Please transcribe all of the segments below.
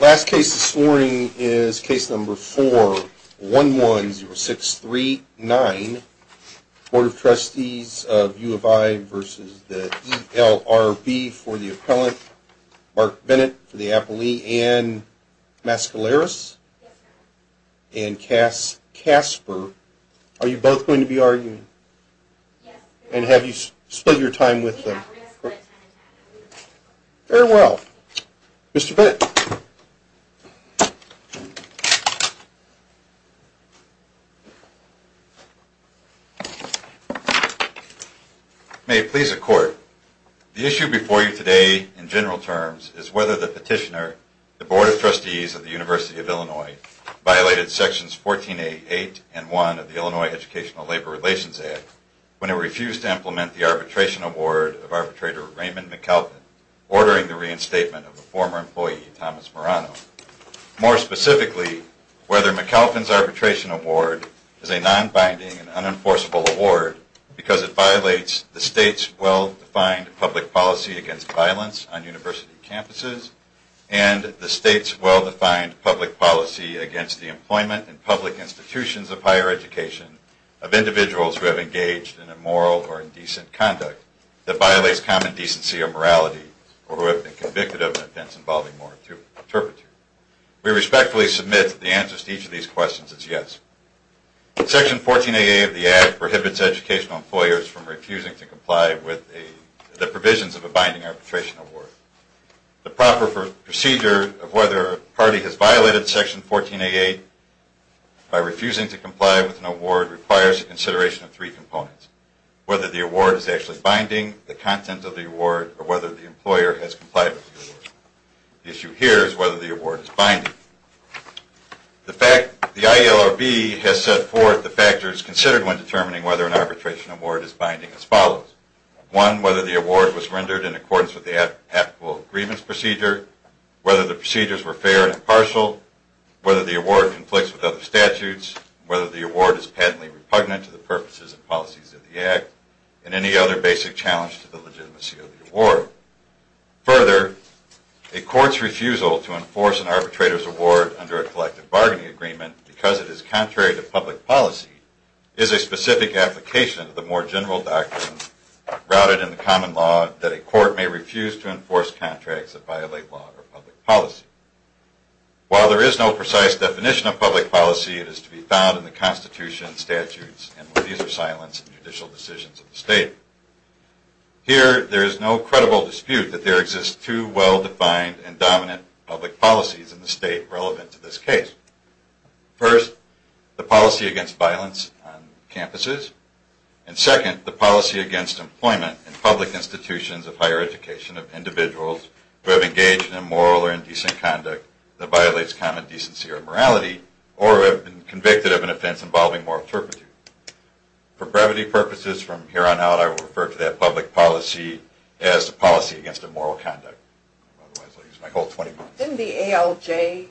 Last case this morning is case number 4110639, Board of Trustees of U of I v. The ELRB for the appellant, Mark Bennett for the appellee, and Mascaleras and Casper. Are you both going to be arguing? Yes, sir. And have you spent your time with them? Yes, sir. Very well. Mr. Bennett. May it please the Court, the issue before you today in general terms is whether the petitioner, the Board of Trustees of the University of Illinois, violated sections 14A.8 and 1 of the Illinois Educational Labor Relations Act when it refused to implement the arbitration award of arbitrator Raymond McAlpin, ordering the reinstatement of a former employee, Thomas Morano. More specifically, whether McAlpin's arbitration award is a non-binding and unenforceable award because it violates the state's well-defined public policy against violence on university campuses and the state's well-defined public policy against the employment and public institutions of higher education of individuals who have engaged in immoral or indecent conduct that violates common decency or morality or who have been convicted of offense involving moral turpitude. We respectfully submit that the answer to each of these questions is yes. Section 14A.8 of the Act prohibits educational employers from refusing to comply with the provisions of a binding arbitration award. The proper procedure of whether a party has violated section 14A.8 by refusing to comply with an award requires consideration of three components. Whether the award is actually binding, the content of the award, or whether the employer has complied with the award. The issue here is whether the award is binding. The ILRB has set forth the factors considered when determining whether an arbitration award is binding as follows. One, whether the award was rendered in accordance with the applicable agreements procedure, whether the procedures were fair and impartial, whether the award conflicts with other statutes, whether the award is patently repugnant to the purposes and policies of the Act, and any other basic challenge to the legitimacy of the award. Further, a court's refusal to enforce an arbitrator's award under a collective bargaining agreement because it is contrary to public policy is a specific application of the more general doctrine routed in the common law that a court may refuse to enforce contracts that violate law or public policy. While there is no precise definition of public policy, it is to be found in the Constitution and statutes, and when these are silenced in judicial decisions of the State. Here, there is no credible dispute that there exist two well-defined and dominant public policies in the State relevant to this case. First, the policy against violence on campuses. And second, the policy against employment in public institutions of higher education of individuals who have engaged in immoral or indecent conduct that violates common decency or morality, or have been convicted of an offense involving moral turpitude. For brevity purposes, from here on out, I will refer to that public policy as the policy against immoral conduct. Otherwise, I'll use my whole 20 minutes. Didn't the ALJ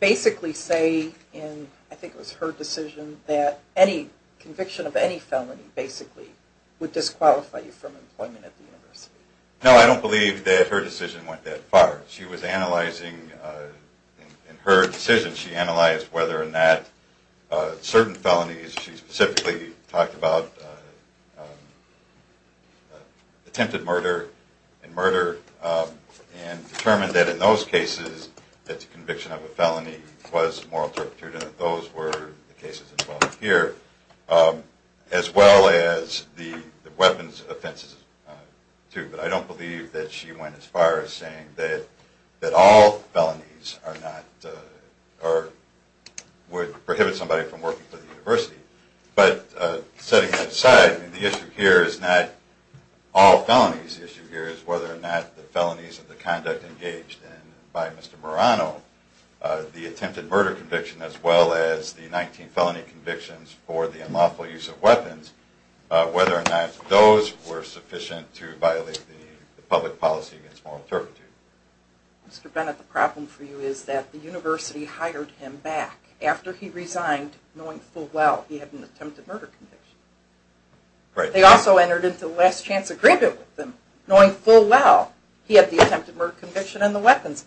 basically say in, I think it was her decision, that any conviction of any felony basically would disqualify you from employment at the university? No, I don't believe that her decision went that far. She was analyzing, in her decision, she analyzed whether or not certain felonies, she specifically talked about attempted murder and murder, and determined that in those cases, that the conviction of a felony was moral turpitude, and that those were the cases involved here, as well as the weapons offenses too. But I don't believe that she went as far as saying that all felonies are not, or would prohibit somebody from working for the university. But setting that aside, the issue here is not all felonies. The issue here is whether or not the felonies of the conduct engaged in by Mr. Murano, the attempted murder conviction as well as the 19 felony convictions for the unlawful use of weapons, whether or not those were sufficient to violate the public policy against moral turpitude. Mr. Bennett, the problem for you is that the university hired him back after he resigned, knowing full well he had an attempted murder conviction. Right. They also entered into a last chance agreement with him, knowing full well he had the attempted murder conviction and the weapons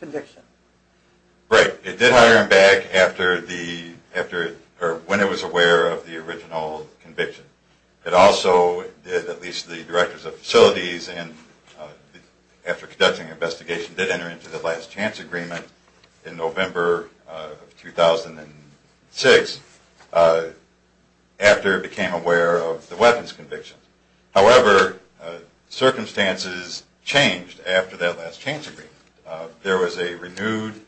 conviction. Right. It did hire him back when it was aware of the original conviction. It also, at least the directors of facilities, after conducting the investigation, did enter into the last chance agreement in November of 2006 after it became aware of the weapons conviction. However, circumstances changed after that last chance agreement. There was a renewed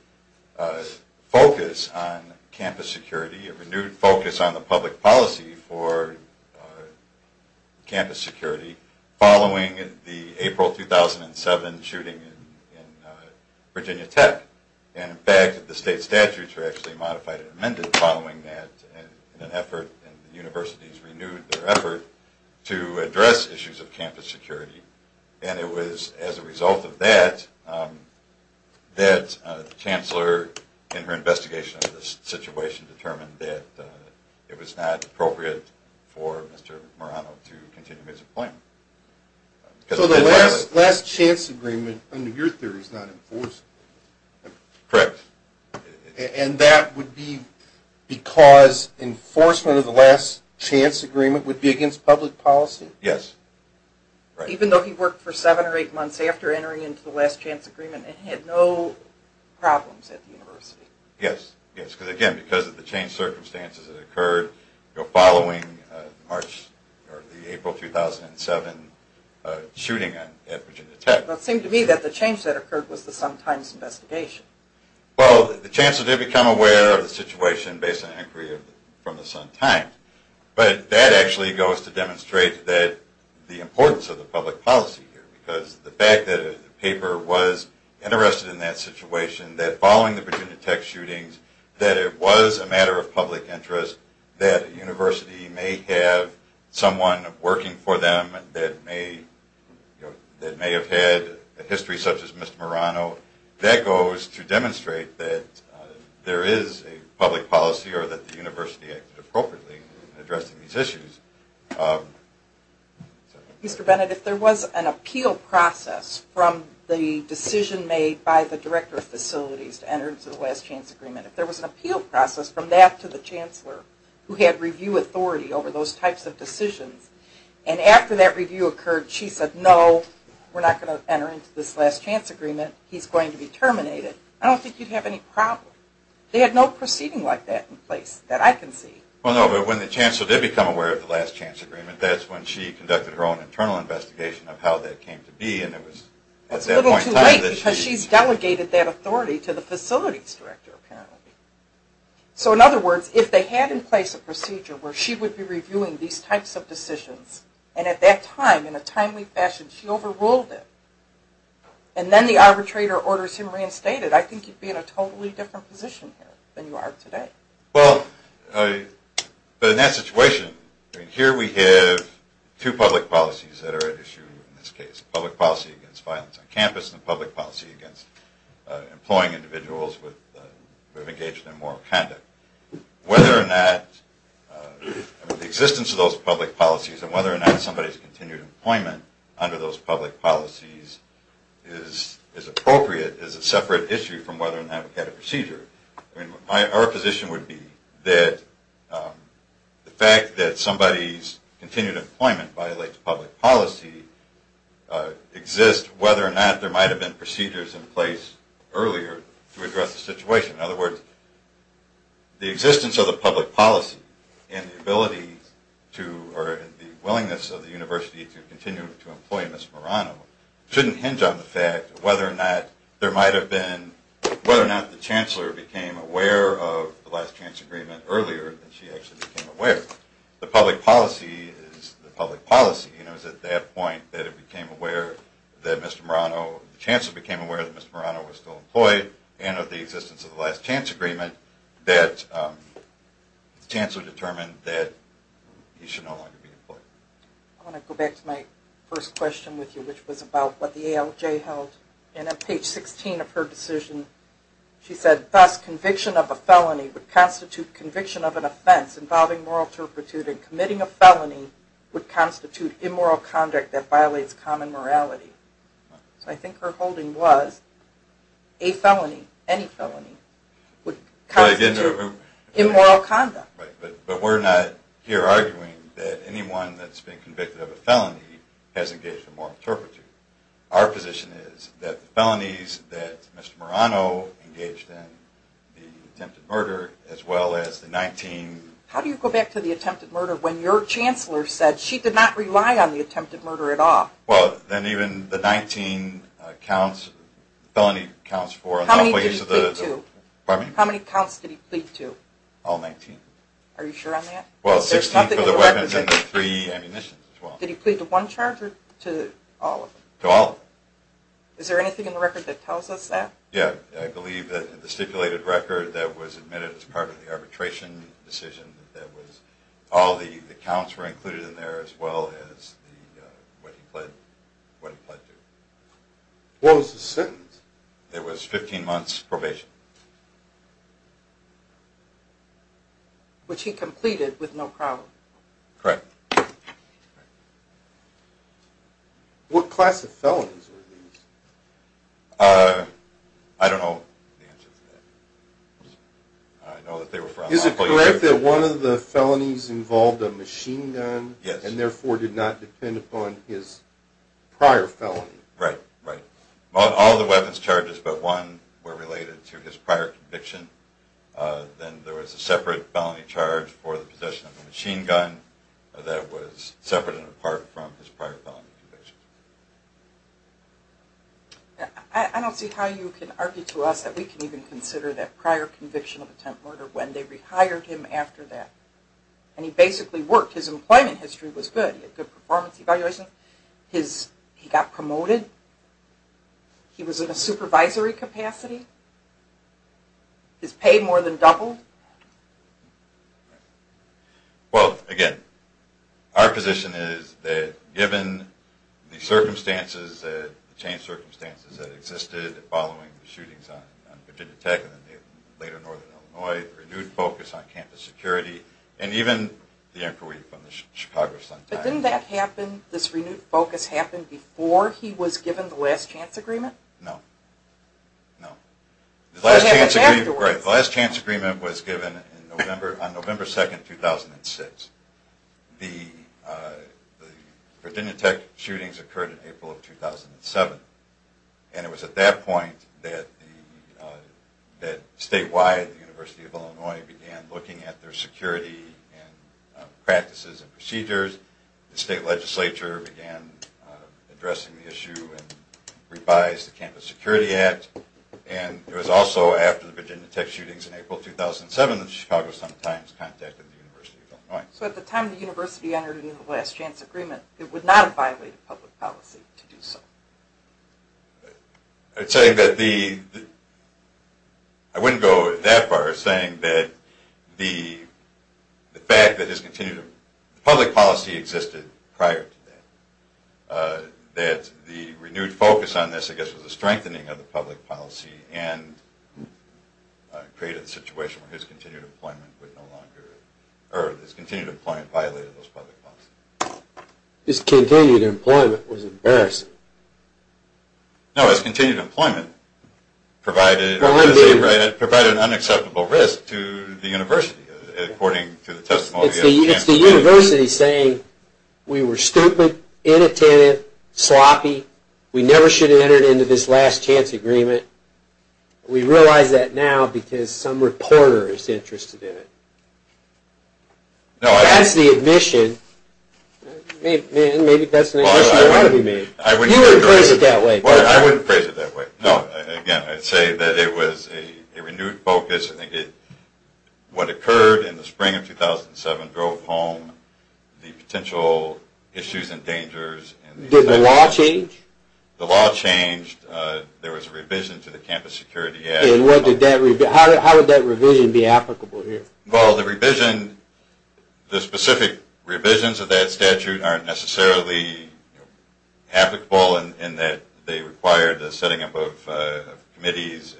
focus on campus security, a renewed focus on the public policy for campus security, following the April 2007 shooting in Virginia Tech. In fact, the state statutes were actually modified and amended following that in an effort, and the universities renewed their effort, to address issues of campus security. And it was as a result of that, that the chancellor, in her investigation of the situation, determined that it was not appropriate for Mr. Murano to continue his employment. So the last chance agreement, under your theory, is not enforced? Correct. And that would be because enforcement of the last chance agreement would be against public policy? Yes. Even though he worked for seven or eight months after entering into the last chance agreement and had no problems at the university? Yes. Because again, because of the changed circumstances that occurred following the April 2007 shooting at Virginia Tech. But it seemed to me that the change that occurred was the Sun-Times investigation. Well, the chancellor did become aware of the situation based on an inquiry from the Sun-Times. But that actually goes to demonstrate the importance of the public policy here. Because the fact that a paper was interested in that situation, that following the Virginia Tech shootings, that it was a matter of public interest, that a university may have someone working for them that may have had a history such as Mr. Murano, that goes to demonstrate that there is a public policy or that the university acted appropriately in addressing these issues. Mr. Bennett, if there was an appeal process from the decision made by the director of facilities to enter into the last chance agreement, if there was an appeal process from that to the chancellor who had review authority over those types of decisions, and after that review occurred she said no, we're not going to enter into this last chance agreement, he's going to be terminated, I don't think you'd have any problem. They had no proceeding like that in place that I can see. Well, no, but when the chancellor did become aware of the last chance agreement, that's when she conducted her own internal investigation of how that came to be. That's a little too late because she's delegated that authority to the facilities director apparently. So in other words, if they had in place a procedure where she would be reviewing these types of decisions, and at that time, in a timely fashion, she overruled it, and then the arbitrator orders him reinstated, I think you'd be in a totally different position here than you are today. Well, but in that situation, here we have two public policies that are at issue in this case. A public policy against violence on campus and a public policy against employing individuals who have engaged in immoral conduct. Whether or not the existence of those public policies and whether or not somebody's continued employment under those public policies is appropriate is a separate issue from whether or not we have a procedure. Our position would be that the fact that somebody's continued employment violates public policy exists whether or not there might have been procedures in place earlier to address the situation. In other words, the existence of the public policy and the willingness of the university to continue to employ Ms. Morano shouldn't hinge on the fact whether or not the chancellor became aware of the last chance agreement earlier than she actually became aware of. The public policy is the public policy, and it was at that point that it became aware that Mr. Morano, the chancellor became aware that Mr. Morano was still employed and of the existence of the last chance agreement that the chancellor determined that he should no longer be employed. I want to go back to my first question with you, which was about what the ALJ held. And on page 16 of her decision, she said, thus conviction of a felony would constitute conviction of an offense involving moral turpitude and committing a felony would constitute immoral conduct that violates common morality. So I think her holding was a felony, any felony, would constitute immoral conduct. Right, but we're not here arguing that anyone that's been convicted of a felony has engaged in moral turpitude. Our position is that the felonies that Mr. Morano engaged in, the attempted murder, as well as the 19... How do you go back to the attempted murder when your chancellor said she did not rely on the attempted murder at all? Well, then even the 19 counts, felony counts for... How many did he plead to? Pardon me? How many counts did he plead to? All 19. Are you sure on that? Well, 16 for the weapons and the three ammunitions as well. Did he plead to one charge or to all of them? To all of them. Is there anything in the record that tells us that? Yeah, I believe that the stipulated record that was admitted as part of the arbitration decision, that was all the counts were included in there as well as what he pled to. What was the sentence? It was 15 months probation. Which he completed with no problem. Correct. What class of felonies were these? I don't know the answer to that. Is it correct that one of the felonies involved a machine gun and therefore did not depend upon his prior felony? Right, right. All the weapons charges but one were related to his prior conviction. Then there was a separate felony charge for the possession of a machine gun that was separate and apart from his prior felony conviction. I don't see how you can argue to us that we can even consider that prior conviction of attempt murder when they rehired him after that. And he basically worked. His employment history was good. He had good performance evaluation. He got promoted. He was in a supervisory capacity. His pay more than doubled. Well, again, our position is that given the circumstances, the changed circumstances that existed following the shootings on Virginia Tech and later Northern Illinois, renewed focus on campus security and even the inquiry from the Chicago Sun-Times. Didn't this renewed focus happen before he was given the last chance agreement? No. The last chance agreement was given on November 2, 2006. The Virginia Tech shootings occurred in April of 2007. And it was at that point that statewide the University of Illinois began looking at their security and practices and procedures. The state legislature began addressing the issue and revised the Campus Security Act. And it was also after the Virginia Tech shootings in April 2007 that the Chicago Sun-Times contacted the University of Illinois. So at the time the University entered into the last chance agreement, it would not have violated public policy to do so? I wouldn't go that far as saying that the fact that his continued public policy existed prior to that. That the renewed focus on this, I guess, was a strengthening of the public policy and created a situation where his continued employment violated those public policies. His continued employment was embarrassing. No, his continued employment provided an unacceptable risk to the University according to the testimony. It's the University saying, we were stupid, inattentive, sloppy, we never should have entered into this last chance agreement. We realize that now because some reporter is interested in it. That's the admission. You wouldn't phrase it that way. I wouldn't phrase it that way. Again, I'd say that it was a renewed focus. What occurred in the spring of 2007 drove home the potential issues and dangers. Did the law change? The law changed. There was a revision to the Campus Security Act. How would that revision be applicable here? Well, the revision, the specific revisions of that statute aren't necessarily applicable in that they require the setting up of committees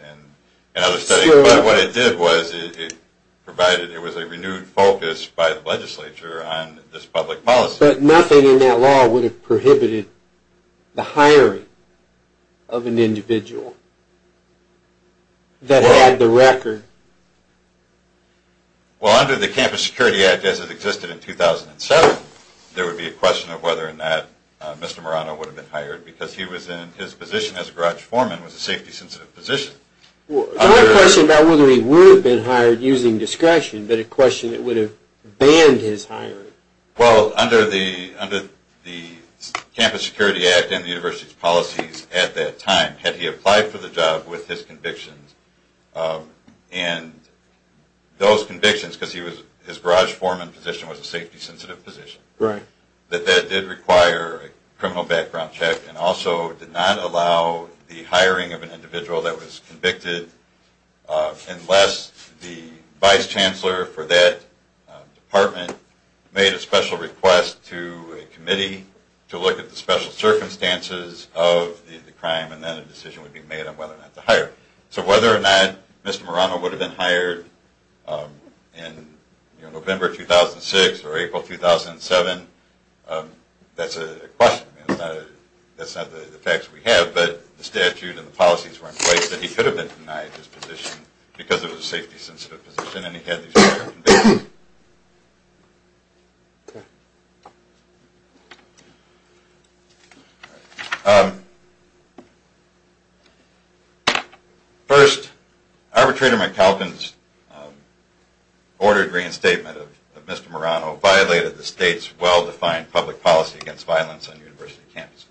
and other settings. But what it did was it provided, it was a renewed focus by the legislature on this public policy. But nothing in that law would have prohibited the hiring of an individual that had the record. Well, under the Campus Security Act, as it existed in 2007, there would be a question of whether or not Mr. Marano would have been hired because he was in his position as a garage foreman, was a safety-sensitive position. I have a question about whether he would have been hired using discretion, but a question that would have banned his hiring. Well, under the Campus Security Act and the university's policies at that time, had he applied for the job with his convictions, and those convictions, because his garage foreman position was a safety-sensitive position, that that did require a criminal background check and also did not allow the hiring of an individual that was convicted unless the vice chancellor for that department made a special request to a committee to look at the special circumstances of the crime and then a decision would be made on whether or not to hire. So whether or not Mr. Marano would have been hired in November 2006 or April 2007, that's a question. That's not the facts we have, but the statute and the policies were in place that he could have been denied his position because it was a safety-sensitive position and he had these convictions. First, Arbitrator McAlpin's ordered reinstatement of Mr. Marano violated the state's well-defined public policy against violence on university campuses.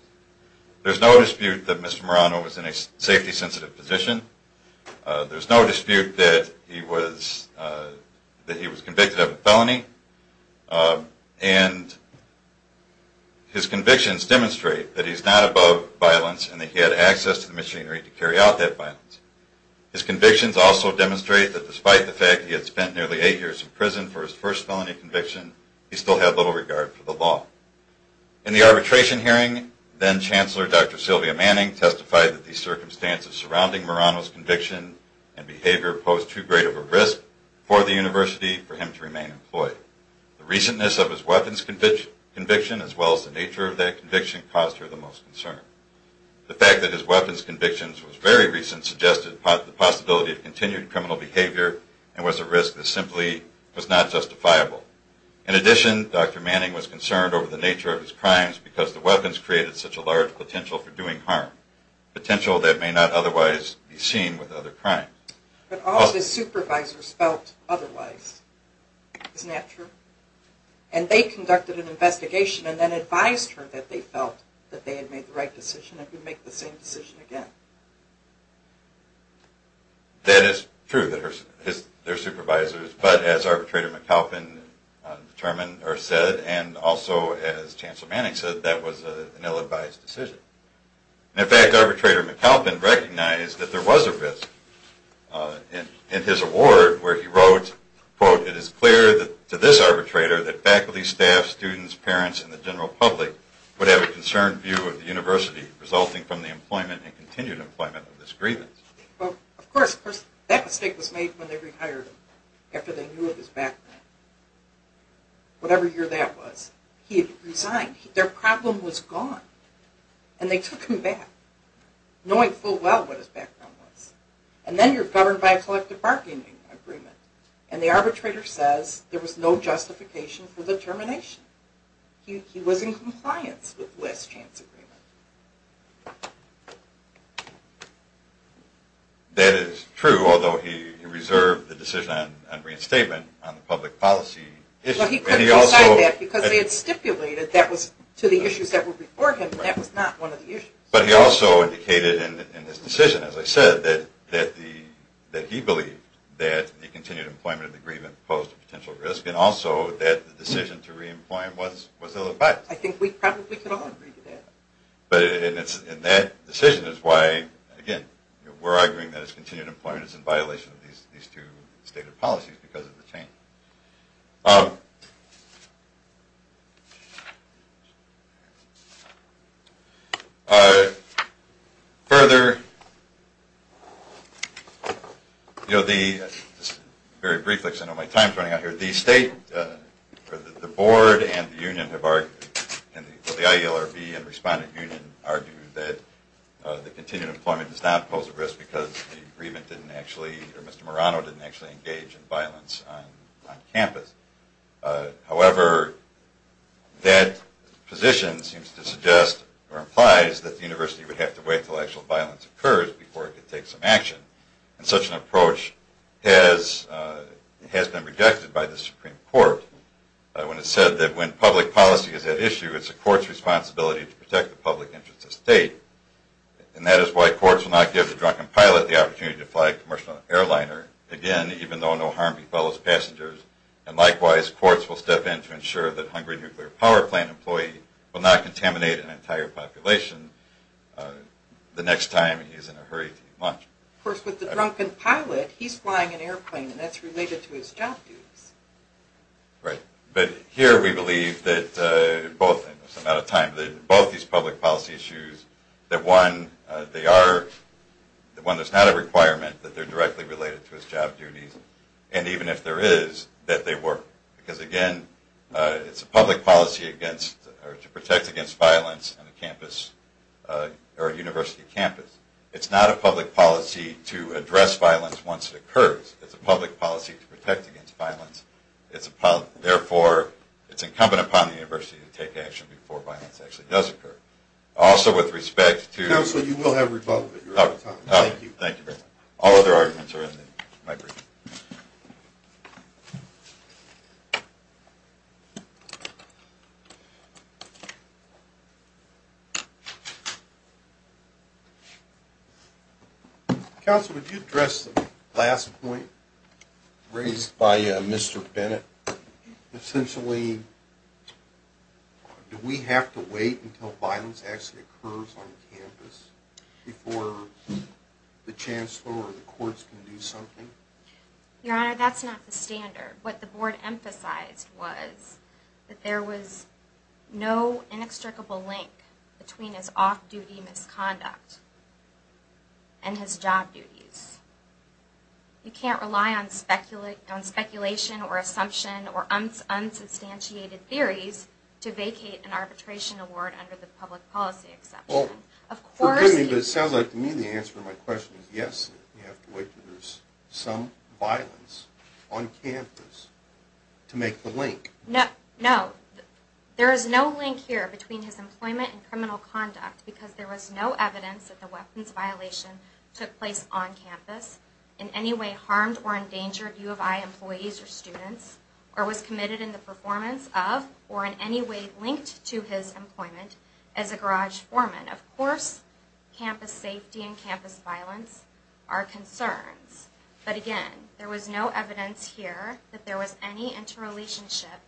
There's no dispute that Mr. Marano was in a safety-sensitive position. There's no dispute that he was convicted of a felony, and his convictions demonstrate that he's not above violence and that he had access to the machinery to carry out that violence. His convictions also demonstrate that despite the fact he had spent nearly eight years in prison for his first felony conviction, he still had little regard for the law. In the arbitration hearing, then-Chancellor Dr. Sylvia Manning testified that the circumstances surrounding Marano's conviction and behavior posed too great of a risk for the university for him to remain employed. The recentness of his weapons conviction, as well as the nature of that conviction, caused her the most concern. The fact that his weapons conviction was very recent suggested the possibility of continued criminal behavior and was a risk that simply was not justifiable. In addition, Dr. Manning was concerned over the nature of his crimes because the weapons created such a large potential for doing harm, potential that may not otherwise be seen with other crimes. But all of his supervisors felt otherwise. Isn't that true? And they conducted an investigation and then advised her that they felt that they had made the right decision and could make the same decision again. That is true, their supervisors, but as Arbitrator McAlpin determined or said, and also as Chancellor Manning said, that was an ill-advised decision. In fact, Arbitrator McAlpin recognized that there was a risk in his award where he wrote, quote, it is clear to this arbitrator that faculty, staff, students, parents, and the general public would have a concerned view of the university resulting from the employment and continued employment of this grievance. Of course, that mistake was made when they re-hired him after they knew of his background. Whatever year that was, he had resigned. Their problem was gone. And they took him back, knowing full well what his background was. And then you're governed by a collective bargaining agreement and the arbitrator says there was no justification for the termination. He was in compliance with the last chance agreement. That is true, although he reserved the decision on reinstatement on the public policy issue. But he couldn't decide that because they had stipulated that was to the issues that were before him and that was not one of the issues. But he also indicated in his decision, as I said, that he believed that the continued employment of the grievance posed a potential risk and also that the decision to re-employ him was ill-advised. I think we probably could all agree to that. And that decision is why, again, we're arguing that his continued employment is in violation of these two stated policies because of the change. Further, very briefly because I know my time is running out here, the state, the board, and the IELRB and Respondent Union argue that the continued employment does not pose a risk because Mr. Morano didn't actually engage in violence on campus. However, that position seems to suggest or implies that the university would have to wait until actual violence occurs before it could take some action. And such an approach has been rejected by the Supreme Court when it said that when public policy is at issue, it's the court's responsibility to protect the public interest of state. And that is why courts will not give the drunken pilot the opportunity to fly a commercial airliner, again, even though no harm befall his passengers. And likewise, courts will step in to ensure that a hungry nuclear power plant employee will not contaminate an entire population the next time he's in a hurry to eat lunch. Of course, with the drunken pilot, he's flying an airplane and that's related to his job duties. Right. But here we believe that both these public policy issues, that when there's not a requirement, that they're directly related to his job duties. And even if there is, that they work. Because again, it's a public policy to protect against violence on a university campus. It's not a public policy to address violence once it occurs. It's a public policy to protect against violence. Therefore, it's incumbent upon the university to take action before violence actually does occur. Also, with respect to – Counsel, you will have rebuttal at your time. Thank you. All other arguments are in my brief. Counsel, would you address the last point raised by Mr. Bennett? Essentially, do we have to wait until violence actually occurs on campus before the chancellor or the courts can do something? Your Honor, that's not the standard. What the board emphasized was that there was no inextricable link between his off-duty misconduct and his job duties. You can't rely on speculation or assumption or unsubstantiated theories to vacate an arbitration award under the public policy exception. Well, it sounds like to me the answer to my question is yes. You have to wait until there's some violence on campus to make the link. No. There is no link here between his employment and criminal conduct because there was no evidence that the weapons violation took place on campus, in any way harmed or endangered U of I employees or students, or was committed in the performance of or in any way linked to his employment as a garage foreman. Of course, campus safety and campus violence are concerns. But again, there was no evidence here that there was any interrelationship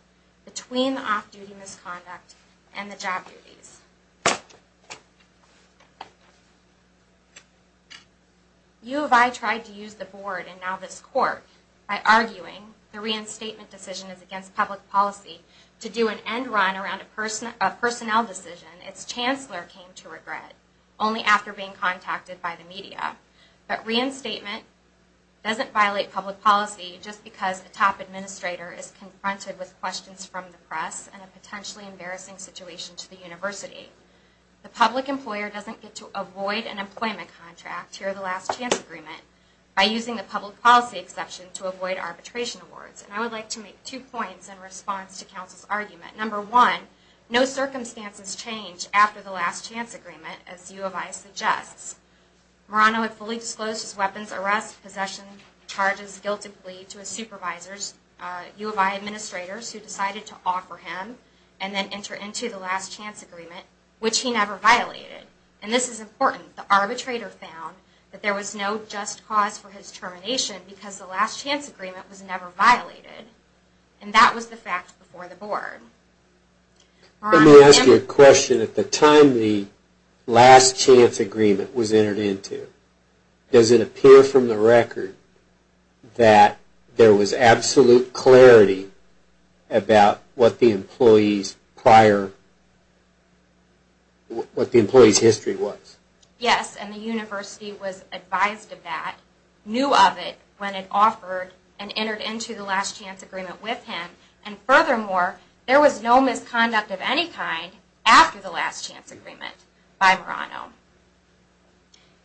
between the off-duty misconduct and the job duties. U of I tried to use the board and now this court by arguing the reinstatement decision is against public policy to do an end run around a personnel decision its chancellor came to regret only after being contacted by the media. But reinstatement doesn't violate public policy just because the top administrator is confronted with questions from the press and a potentially embarrassing situation to the university. The public employer doesn't get to avoid an employment contract here in the last chance agreement by using the public policy exception to avoid arbitration awards. And I would like to make two points in response to counsel's argument. Number one, no circumstances change after the last chance agreement as U of I suggests. Morano had fully disclosed his weapons, arrests, possessions, charges, guilt and plea to his supervisors, U of I administrators, who decided to offer him and then enter into the last chance agreement, which he never violated. And this is important. The arbitrator found that there was no just cause for his termination because the last chance agreement was never violated. And that was the fact before the board. Let me ask you a question. At the time the last chance agreement was entered into, does it appear from the record that there was absolute clarity about what the employee's prior, what the employee's history was? Yes, and the university was advised of that, knew of it when it offered and entered into the last chance agreement with him. And furthermore, there was no misconduct of any kind after the last chance agreement by Morano.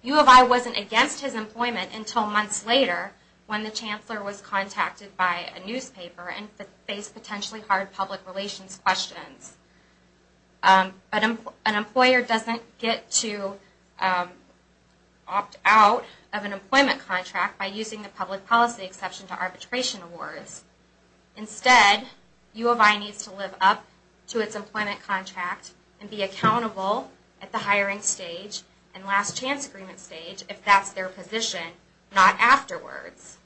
U of I wasn't against his employment until months later when the chancellor was contacted by a newspaper and faced potentially hard public relations questions. An employer doesn't get to opt out of an employment contract by using the public policy exception to arbitration awards. Instead, U of I needs to live up to its employment contract and be accountable at the hiring stage and last chance agreement stage if that's their position, not afterwards.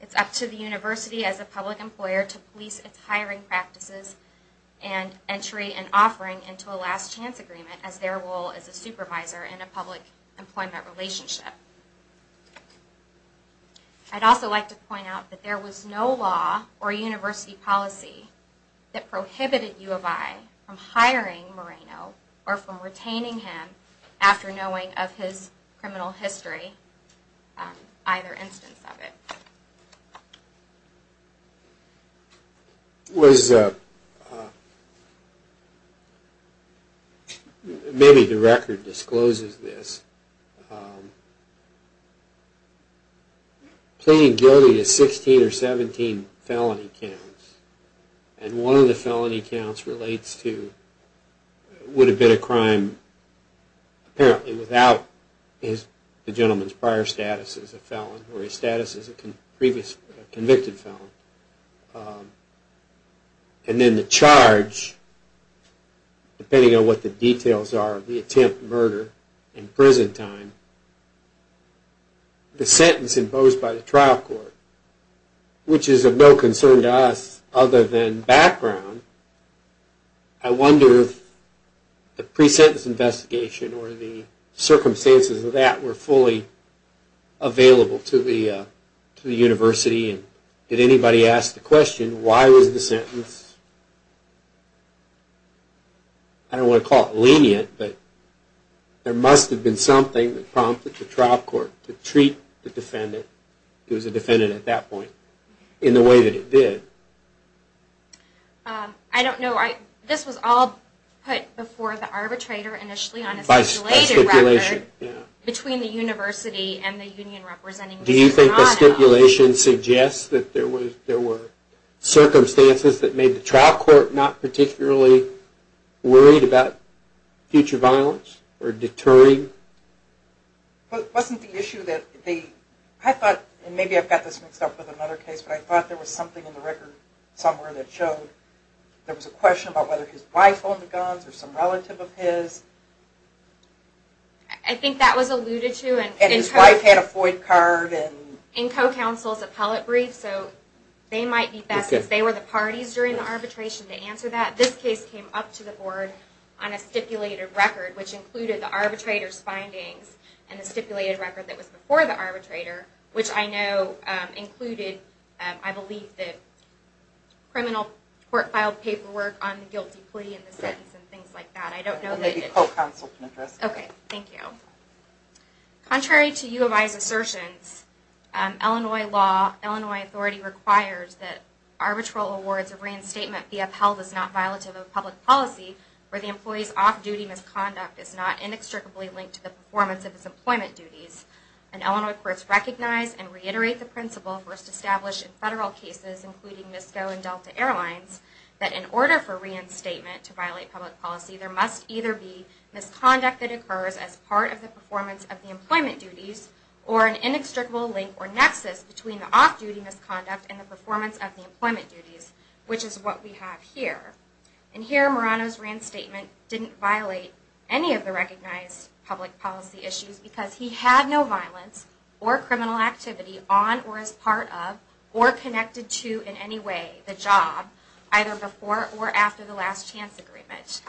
It's up to the university as a public employer to police its hiring practices and entry and offering into a last chance agreement as their role as a supervisor in a public employment relationship. I'd also like to point out that there was no law or university policy that prohibited U of I from hiring Morano or from retaining him after knowing of his criminal history, either instance of it. Maybe the record discloses this. Pleading guilty to 16 or 17 felony counts. And one of the felony counts relates to, would have been a crime apparently without the gentleman's prior status as a felon or his status as a convicted felon. And then the charge, depending on what the details are, the attempt, murder, and prison time. The sentence imposed by the trial court, which is of no concern to us other than background. I wonder if the pre-sentence investigation or the circumstances of that were fully available to the university. Did anybody ask the question, why was the sentence, I don't want to call it lenient, but there must have been something that prompted the trial court to treat the defendant, he was a defendant at that point, in the way that it did. I don't know, this was all put before the arbitrator initially on a stipulated record between the university and the union representing Mr. Morano. Do you think the stipulation suggests that there were circumstances that made the trial court not particularly worried about future violence or deterring? Wasn't the issue that they, I thought, and maybe I've got this mixed up with another case, but I thought there was something in the record somewhere that showed there was a question about whether his wife owned the guns or some relative of his. I think that was alluded to. And his wife had a Floyd card. In co-counsel's appellate brief, so they might be best, since they were the parties during the arbitration to answer that. But this case came up to the board on a stipulated record, which included the arbitrator's findings, and the stipulated record that was before the arbitrator, which I know included, I believe, the criminal court filed paperwork on the guilty plea and the sentence and things like that. Maybe co-counsel can address that. Okay, thank you. Contrary to U of I's assertions, Illinois law, Illinois authority requires that arbitral awards of reinstatement be upheld as not violative of public policy where the employee's off-duty misconduct is not inextricably linked to the performance of his employment duties. And Illinois courts recognize and reiterate the principle first established in federal cases, including MISCO and Delta Airlines, that in order for reinstatement to violate public policy, there must either be misconduct that occurs as part of the performance of the employment duties, or an inextricable link or nexus between the off-duty misconduct and the performance of the employment duties, which is what we have here. And here, Murano's reinstatement didn't violate any of the recognized public policy issues because he had no violence or criminal activity on or as part of or connected to in any way the job, either before or after the last chance agreement.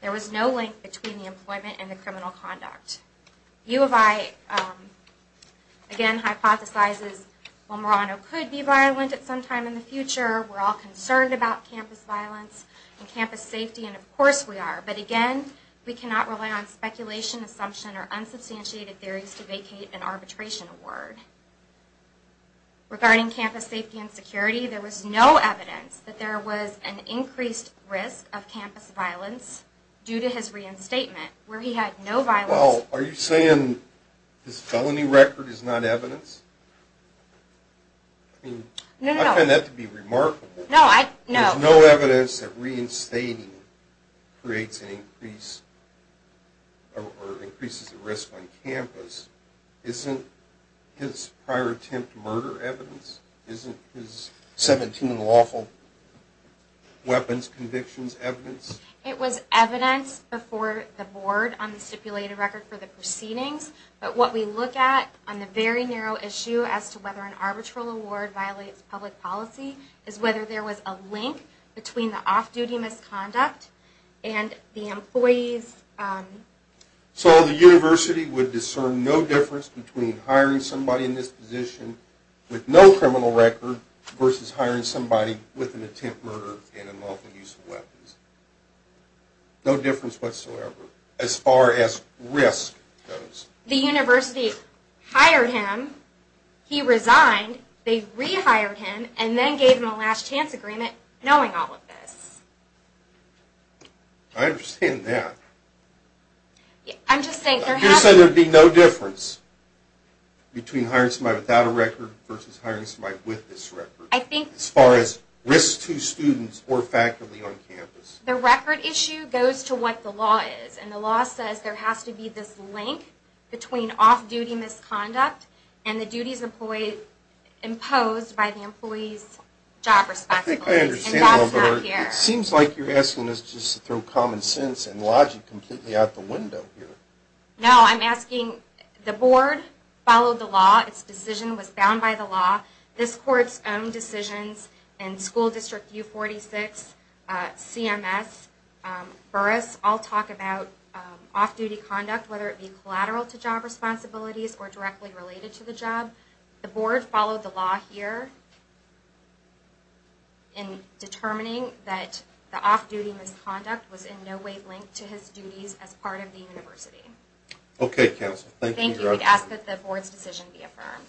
There was no link between the employment and the criminal conduct. U of I, again, hypothesizes, well, Murano could be violent at some time in the future. We're all concerned about campus violence and campus safety, and of course we are. But again, we cannot rely on speculation, assumption, or unsubstantiated theories to vacate an arbitration award. Regarding campus safety and security, there was no evidence that there was an increased risk of campus violence due to his reinstatement, where he had no violence. Well, are you saying his felony record is not evidence? No, no, no. I find that to be remarkable. No, I, no. There's no evidence that reinstating creates an increase or increases the risk on campus. Isn't his prior attempt murder evidence? Isn't his 17 lawful weapons convictions evidence? It was evidence before the board on the stipulated record for the proceedings. But what we look at on the very narrow issue as to whether an arbitral award violates public policy is whether there was a link between the off-duty misconduct and the employee's... So the university would discern no difference between hiring somebody in this position with no criminal record versus hiring somebody with an attempt murder and unlawful use of weapons. No difference whatsoever as far as risk goes. The university hired him, he resigned, they rehired him, and then gave him a last chance agreement knowing all of this. I understand that. I'm just saying there has... I'm just saying there would be no difference between hiring somebody without a record versus hiring somebody with this record. As far as risk to students or faculty on campus. The record issue goes to what the law is. And the law says there has to be this link between off-duty misconduct and the duties imposed by the employee's job responsibilities. I think I understand a little better. And that's not here. It seems like you're asking us just to throw common sense and logic completely out the window here. No, I'm asking... The board followed the law. Its decision was bound by the law. This court's own decisions in school district U46, CMS, Burris, all talk about off-duty conduct, whether it be collateral to job responsibilities or directly related to the job. The board followed the law here in determining that the off-duty misconduct was in no way linked to his duties as part of the university. Okay, Counsel. Thank you. I would ask that the board's decision be affirmed.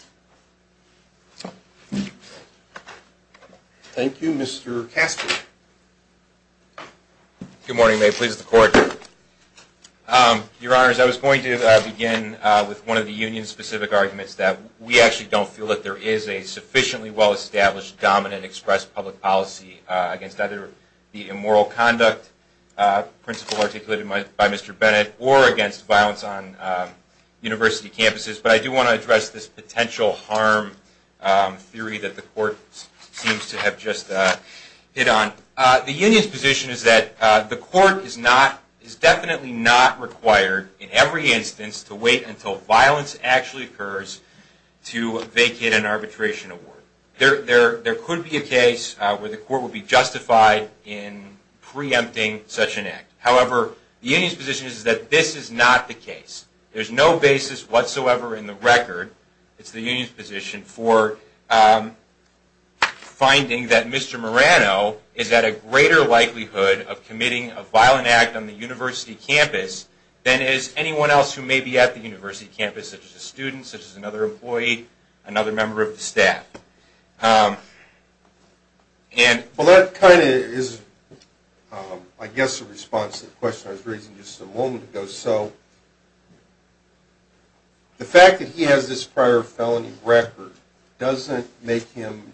Thank you. Mr. Casper. Good morning. May it please the Court. Your Honors, I was going to begin with one of the union-specific arguments that we actually don't feel that there is a sufficiently well-established, dominant, expressed public policy against either the immoral conduct principle articulated by Mr. Bennett or against violence on university campuses, but I do want to address this potential harm theory that the Court seems to have just hit on. The union's position is that the Court is definitely not required in every instance to wait until violence actually occurs to vacate an arbitration award. There could be a case where the Court would be justified in preempting such an act. However, the union's position is that this is not the case. There's no basis whatsoever in the record, it's the union's position, for finding that Mr. Morano is at a greater likelihood of committing a violent act on the university campus than is anyone else who may be at the university campus, such as a student, such as another employee, another member of the staff. Well, that kind of is, I guess, a response to the question I was raising just a moment ago. So the fact that he has this prior felony record doesn't make him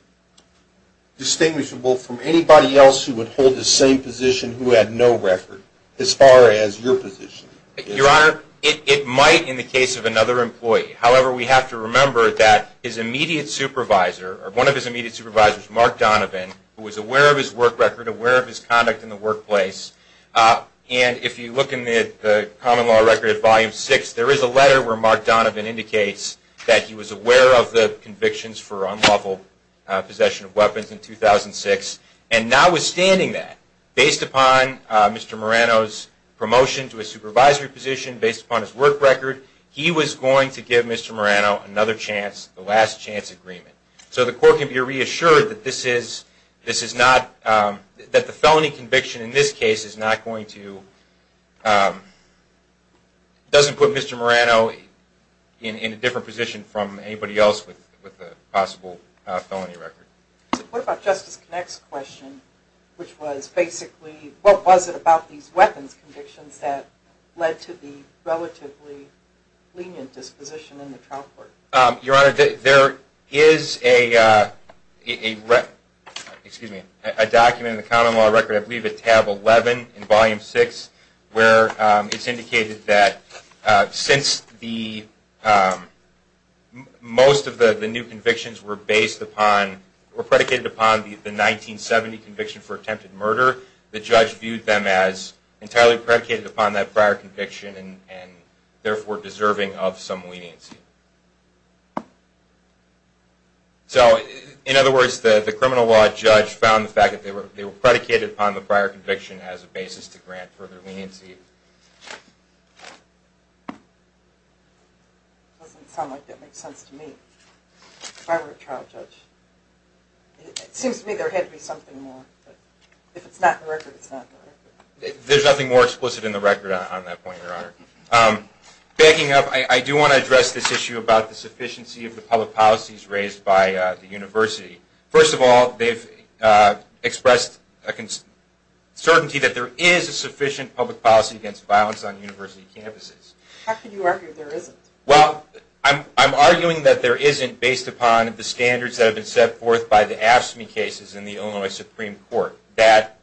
distinguishable from anybody else who would hold the same position who had no record as far as your position. Your Honor, it might in the case of another employee. However, we have to remember that his immediate supervisor, or one of his immediate supervisors, Mark Donovan, who was aware of his work record, aware of his conduct in the workplace, and if you look in the Common Law Record at Volume 6, there is a letter where Mark Donovan indicates that he was aware of the convictions for unlawful possession of weapons in 2006. And notwithstanding that, based upon Mr. Morano's promotion to a supervisory position, based upon his work record, he was going to give Mr. Morano another chance, the last chance agreement. So the Court can be reassured that this is not, that the felony conviction in this case is not going to, doesn't put Mr. Morano in a different position from anybody else with a possible felony record. What about Justice Connick's question, which was basically, what was it about these weapons convictions that led to the relatively lenient disposition in the trial court? Your Honor, there is a document in the Common Law Record, I believe at tab 11 in Volume 6, where it is indicated that since most of the new convictions were predicated upon the 1970 conviction for attempted murder, the judge viewed them as entirely predicated upon that prior conviction and therefore deserving of some leniency. So, in other words, the criminal law judge found the fact that they were predicated upon the prior conviction as a basis to grant further leniency. It doesn't sound like that makes sense to me, if I were a trial judge. It seems to me there had to be something more, but if it's not in the record, it's not in the record. There's nothing more explicit in the record on that point, Your Honor. Backing up, I do want to address this issue about the sufficiency of the public policies raised by the University. First of all, they've expressed certainty that there is a sufficient public policy against violence on University campuses. How can you argue there isn't? Well, I'm arguing that there isn't, based upon the standards that have been set forth by the AFSCME cases in the Illinois Supreme Court, that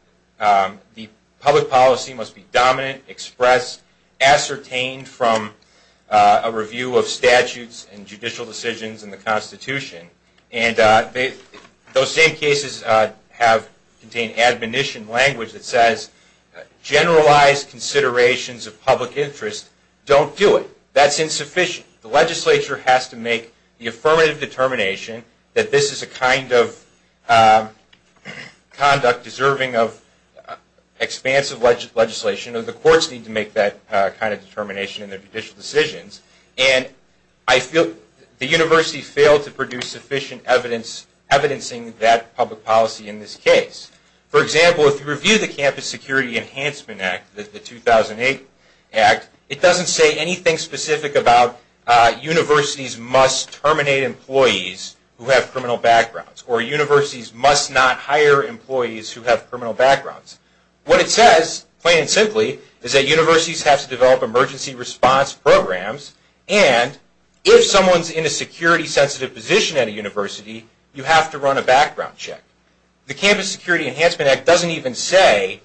the public policy must be dominant, expressed, ascertained from a review of statutes and judicial decisions in the Constitution. And those same cases have contained admonition language that says, generalized considerations of public interest don't do it. That's insufficient. The legislature has to make the affirmative determination that this is a kind of conduct deserving of expansive legislation. The courts need to make that kind of determination in their judicial decisions. And I feel the University failed to produce sufficient evidence, evidencing that public policy in this case. For example, if you review the Campus Security Enhancement Act, the 2008 Act, it doesn't say anything specific about universities must terminate employees who have criminal backgrounds, or universities must not hire employees who have criminal backgrounds. What it says, plain and simply, is that universities have to develop emergency response programs, and if someone's in a security-sensitive position at a university, you have to run a background check. The Campus Security Enhancement Act doesn't even say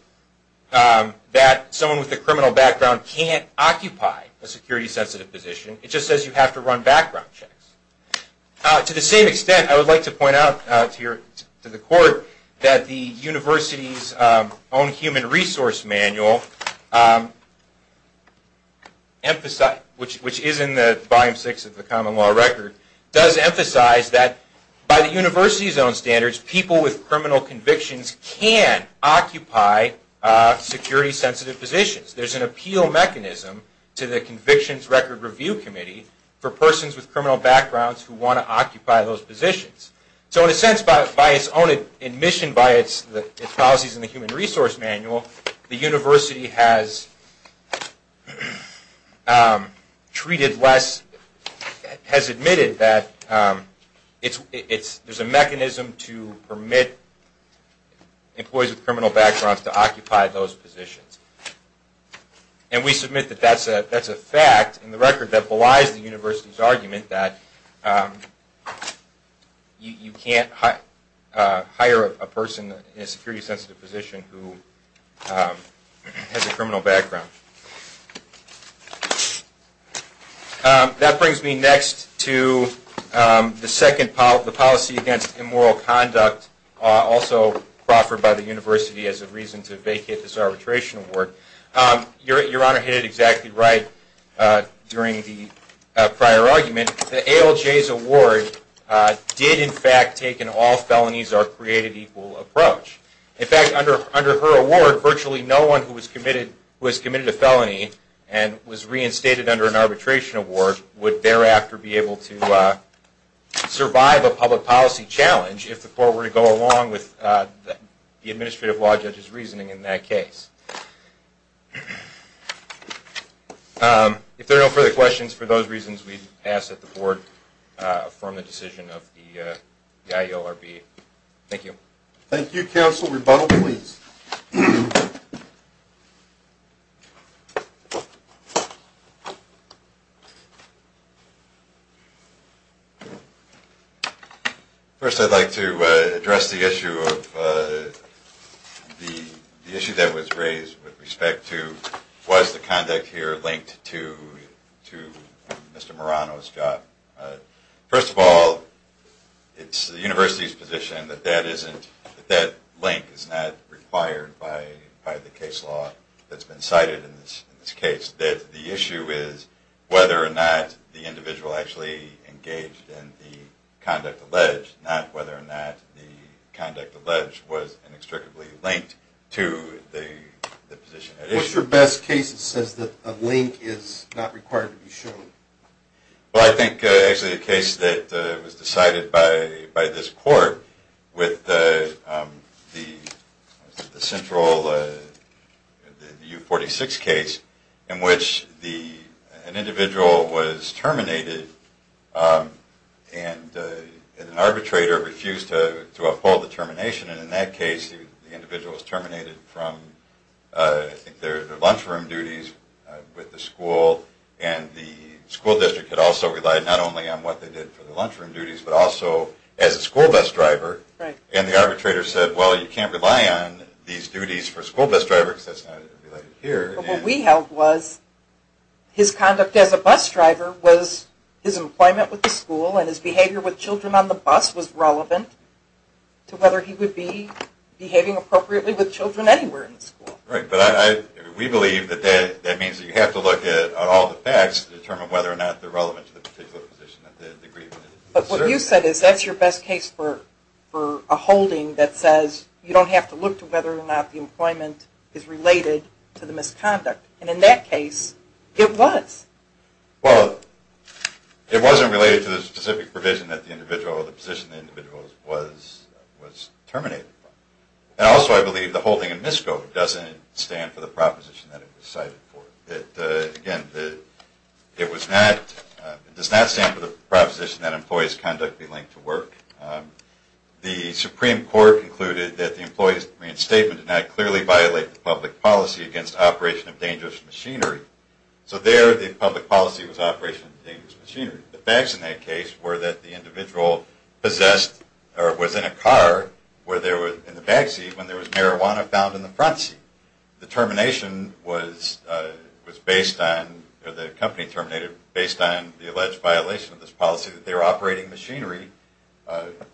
that someone with a criminal background can't occupy a security-sensitive position. It just says you have to run background checks. To the same extent, I would like to point out to the Court that the University's own Human Resource Manual, which is in the Volume 6 of the Common Law Record, does emphasize that by the University's own standards, people with criminal convictions can occupy security-sensitive positions. There's an appeal mechanism to the Convictions Record Review Committee for persons with criminal backgrounds who want to occupy those positions. So in a sense, by its own admission by its policies in the Human Resource Manual, the University has admitted that there's a mechanism to permit employees with criminal backgrounds to occupy those positions. And we submit that that's a fact in the record that belies the University's argument that you can't hire a person in a security-sensitive position who has a criminal background. That brings me next to the policy against immoral conduct, also proffered by the University as a reason to vacate this arbitration award. Your Honor hit it exactly right during the prior argument. The ALJ's award did in fact take an all-felonies-are-created-equal approach. In fact, under her award, virtually no one who has committed a felony and was reinstated under an arbitration award would thereafter be able to survive a public policy challenge if the court were to go along with the administrative law judge's reasoning in that case. If there are no further questions, for those reasons, we ask that the Board affirm the decision of the IORB. Thank you. Thank you, counsel. Rebuttal, please. First, I'd like to address the issue that was raised with respect to was the conduct here linked to Mr. Marano's job. First of all, it's the University's position that that link is not required by the case law that's been cited in this case, that the issue is whether or not the individual actually engaged in the conduct alleged, not whether or not the conduct alleged was inextricably linked to the position at issue. What's your best case that says that a link is not required to be shown? Well, I think actually the case that was decided by this court with the central U46 case in which an individual was terminated and an arbitrator refused to uphold the termination, and in that case the individual was terminated from, I think, their lunchroom duties with the school, and the school district had also relied not only on what they did for their lunchroom duties, but also as a school bus driver, and the arbitrator said, well, you can't rely on these duties for a school bus driver, because that's not related here. But what we held was his conduct as a bus driver was his employment with the school, and his behavior with children on the bus was relevant to whether he would be behaving appropriately with children anywhere in the school. Right, but we believe that that means that you have to look at all the facts to determine whether or not they're relevant to the particular position. But what you said is that's your best case for a holding that says you don't have to look to whether or not the employment is related to the misconduct. And in that case, it was. Well, it wasn't related to the specific provision that the individual or the position of the individual was terminated from. And also, I believe the holding in MISCO doesn't stand for the proposition that it was cited for. Again, it does not stand for the proposition that employee's conduct be linked to work. The Supreme Court concluded that the employee's reinstatement did not clearly violate the public policy against operation of dangerous machinery. So there, the public policy was operation of dangerous machinery. The facts in that case were that the individual possessed or was in a car in the backseat when there was marijuana found in the front seat. The termination was based on, or the company terminated, based on the alleged violation of this policy that they were operating machinery under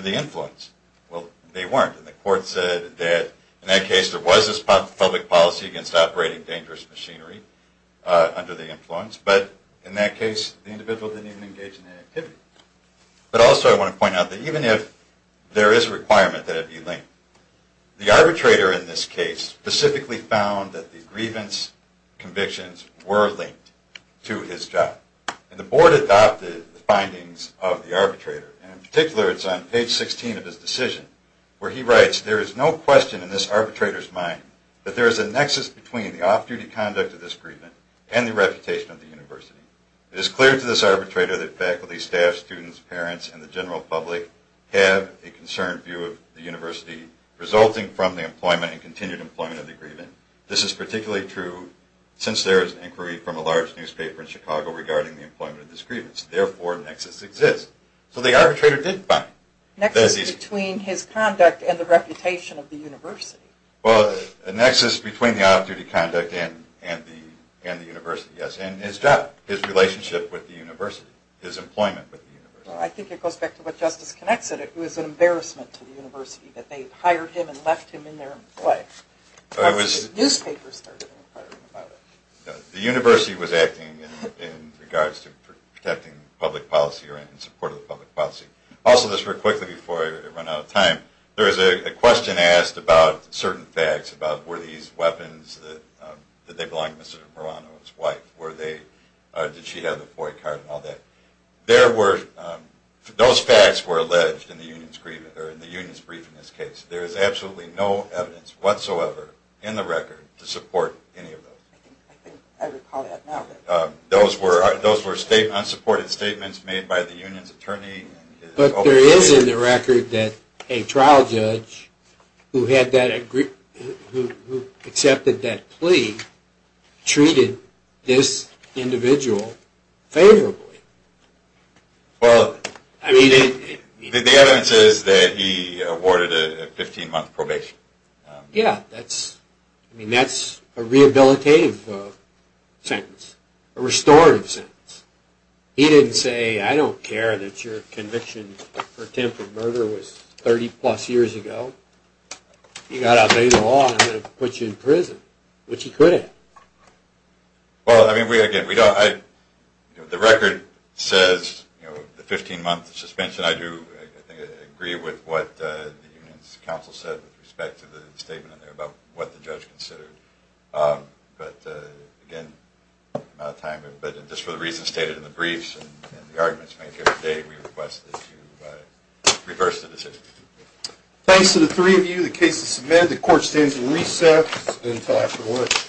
the influence. Well, they weren't. And the court said that in that case there was this public policy against operating dangerous machinery under the influence. But in that case, the individual didn't even engage in any activity. But also, I want to point out that even if there is a requirement that it be linked, the arbitrator in this case specifically found that the grievance convictions were linked to his job. And the board adopted the findings of the arbitrator. And in particular, it's on page 16 of his decision where he writes, There is no question in this arbitrator's mind that there is a nexus between the off-duty conduct of this grievance and the reputation of the university. It is clear to this arbitrator that faculty, staff, students, parents, and the general public have a concerned view of the university resulting from the employment and continued employment of the grievance. This is particularly true since there is inquiry from a large newspaper in Chicago regarding the employment of this grievance. Therefore, a nexus exists. So the arbitrator did find. Nexus between his conduct and the reputation of the university. Well, a nexus between the off-duty conduct and the university, yes. And his job, his relationship with the university, his employment with the university. I think it goes back to what Justice Connett said. It was an embarrassment to the university that they hired him and left him in their way. The newspaper started inquiring about it. The university was acting in regards to protecting public policy or in support of public policy. Also, just real quickly before I run out of time, there was a question asked about certain facts, about were these weapons, did they belong to Mr. Morano's wife? Did she have the boy card and all that? Those facts were alleged in the union's brief in this case. There is absolutely no evidence whatsoever in the record to support any of those. Those were unsupported statements made by the union's attorney. But there is in the record that a trial judge who accepted that plea treated this individual favorably. Well, the evidence is that he awarded a 15-month probation. Yeah, that's a rehabilitative sentence, a restorative sentence. He didn't say, I don't care that your conviction for attempted murder was 30-plus years ago. You got out and paid the law and I'm going to put you in prison, which he couldn't. Well, I mean, again, the record says the 15-month suspension. I do agree with what the union's counsel said with respect to the statement in there about what the judge considered. But again, I'm out of time. But just for the reasons stated in the briefs and the arguments made here today, we request that you reverse the decision. Thanks to the three of you. The case is submitted. The court stands at recess until after lunch.